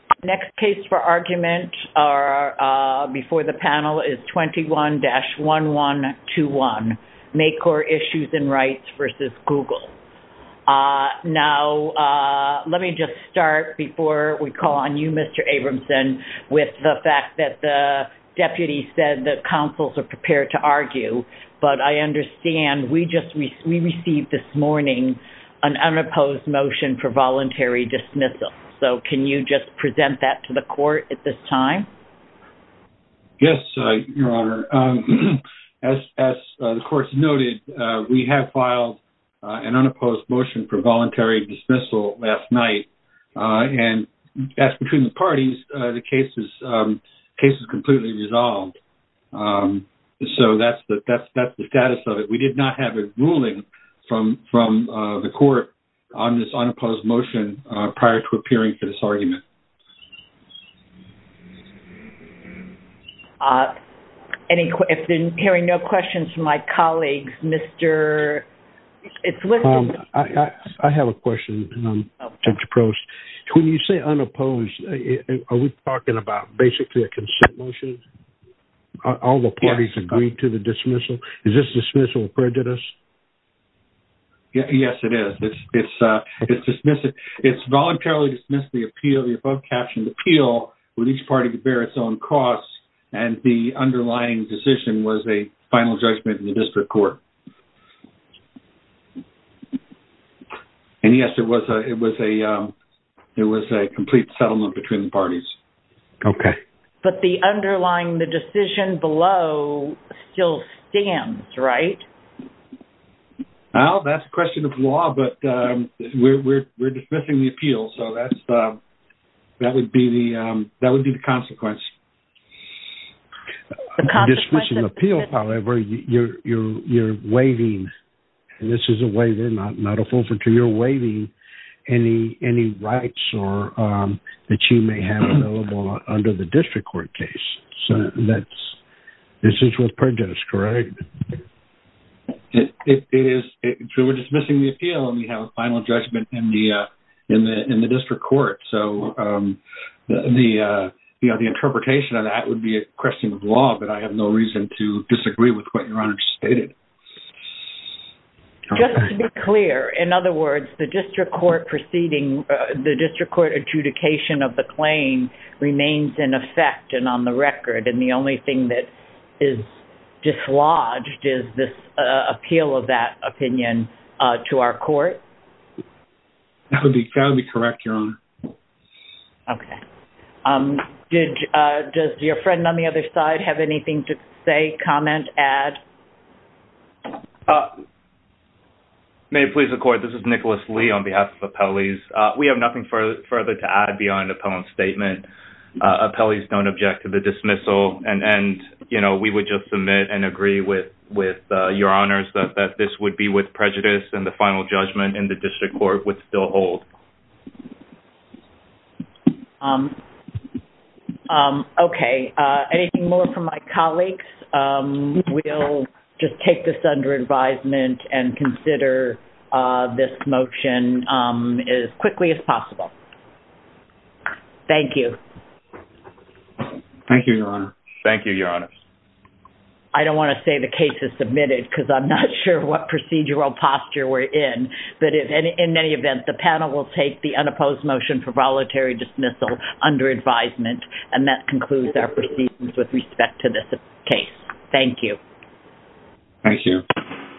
Next case for argument before the panel is 21-1121, Makor Issues & Rights v. Google. Now, let me just start before we call on you, Mr. Abramson, with the fact that the deputy said that counsels are prepared to argue, but I understand we received this morning an unopposed motion for voluntary dismissal. So, can you just present that to the court at this time? Yes, Your Honor. As the court noted, we have filed an unopposed motion for voluntary dismissal last night, and as between the parties, the case is completely resolved. So, that's the status of the case. We did not have a ruling from the court on this unopposed motion prior to appearing for this argument. Hearing no questions from my colleagues, Mr. I have a question, Judge Prost. When you say unopposed, are we talking about basically a prejudice? Yes, it is. It's voluntarily dismissed the appeal, the above-captioned appeal, with each party to bear its own costs, and the underlying decision was a final judgment in the district court. And yes, it was a complete settlement between the parties. Okay. But the underlying, the decision below, still stands, right? Well, that's a question of law, but we're dismissing the appeal. So, that would be the consequence. The consequence of the dismissal. You're dismissing the appeal, however, you're waiving, and this is a waiver, not a full under the district court case. So, this is with prejudice, correct? So, we're dismissing the appeal, and we have a final judgment in the district court. So, the interpretation of that would be a question of law, but I have no reason to disagree with what Your Honor stated. Just to be clear, in other words, the district court proceeding, the district court adjudication of the claim remains in effect and on the record, and the only thing that is dislodged is this appeal of that opinion to our court? That would be correct, Your Honor. Okay. Does your friend on the other side have anything to add? May it please the court, this is Nicholas Lee on behalf of Appellees. We have nothing further to add beyond an appellant statement. Appellees don't object to the dismissal, and we would just submit and agree with Your Honors that this would be with prejudice, and the final judgment in the district court would still hold. Okay. Anything more from my colleagues? We'll just take this under advisement and consider this motion as quickly as possible. Thank you. Thank you, Your Honor. Thank you, Your Honor. I don't want to say the case is submitted because I'm not sure what procedural posture we're in, but in any event, the panel will take the unopposed motion for voluntary dismissal under advisement, and that concludes our proceedings with respect to this case. Thank you. Thank you.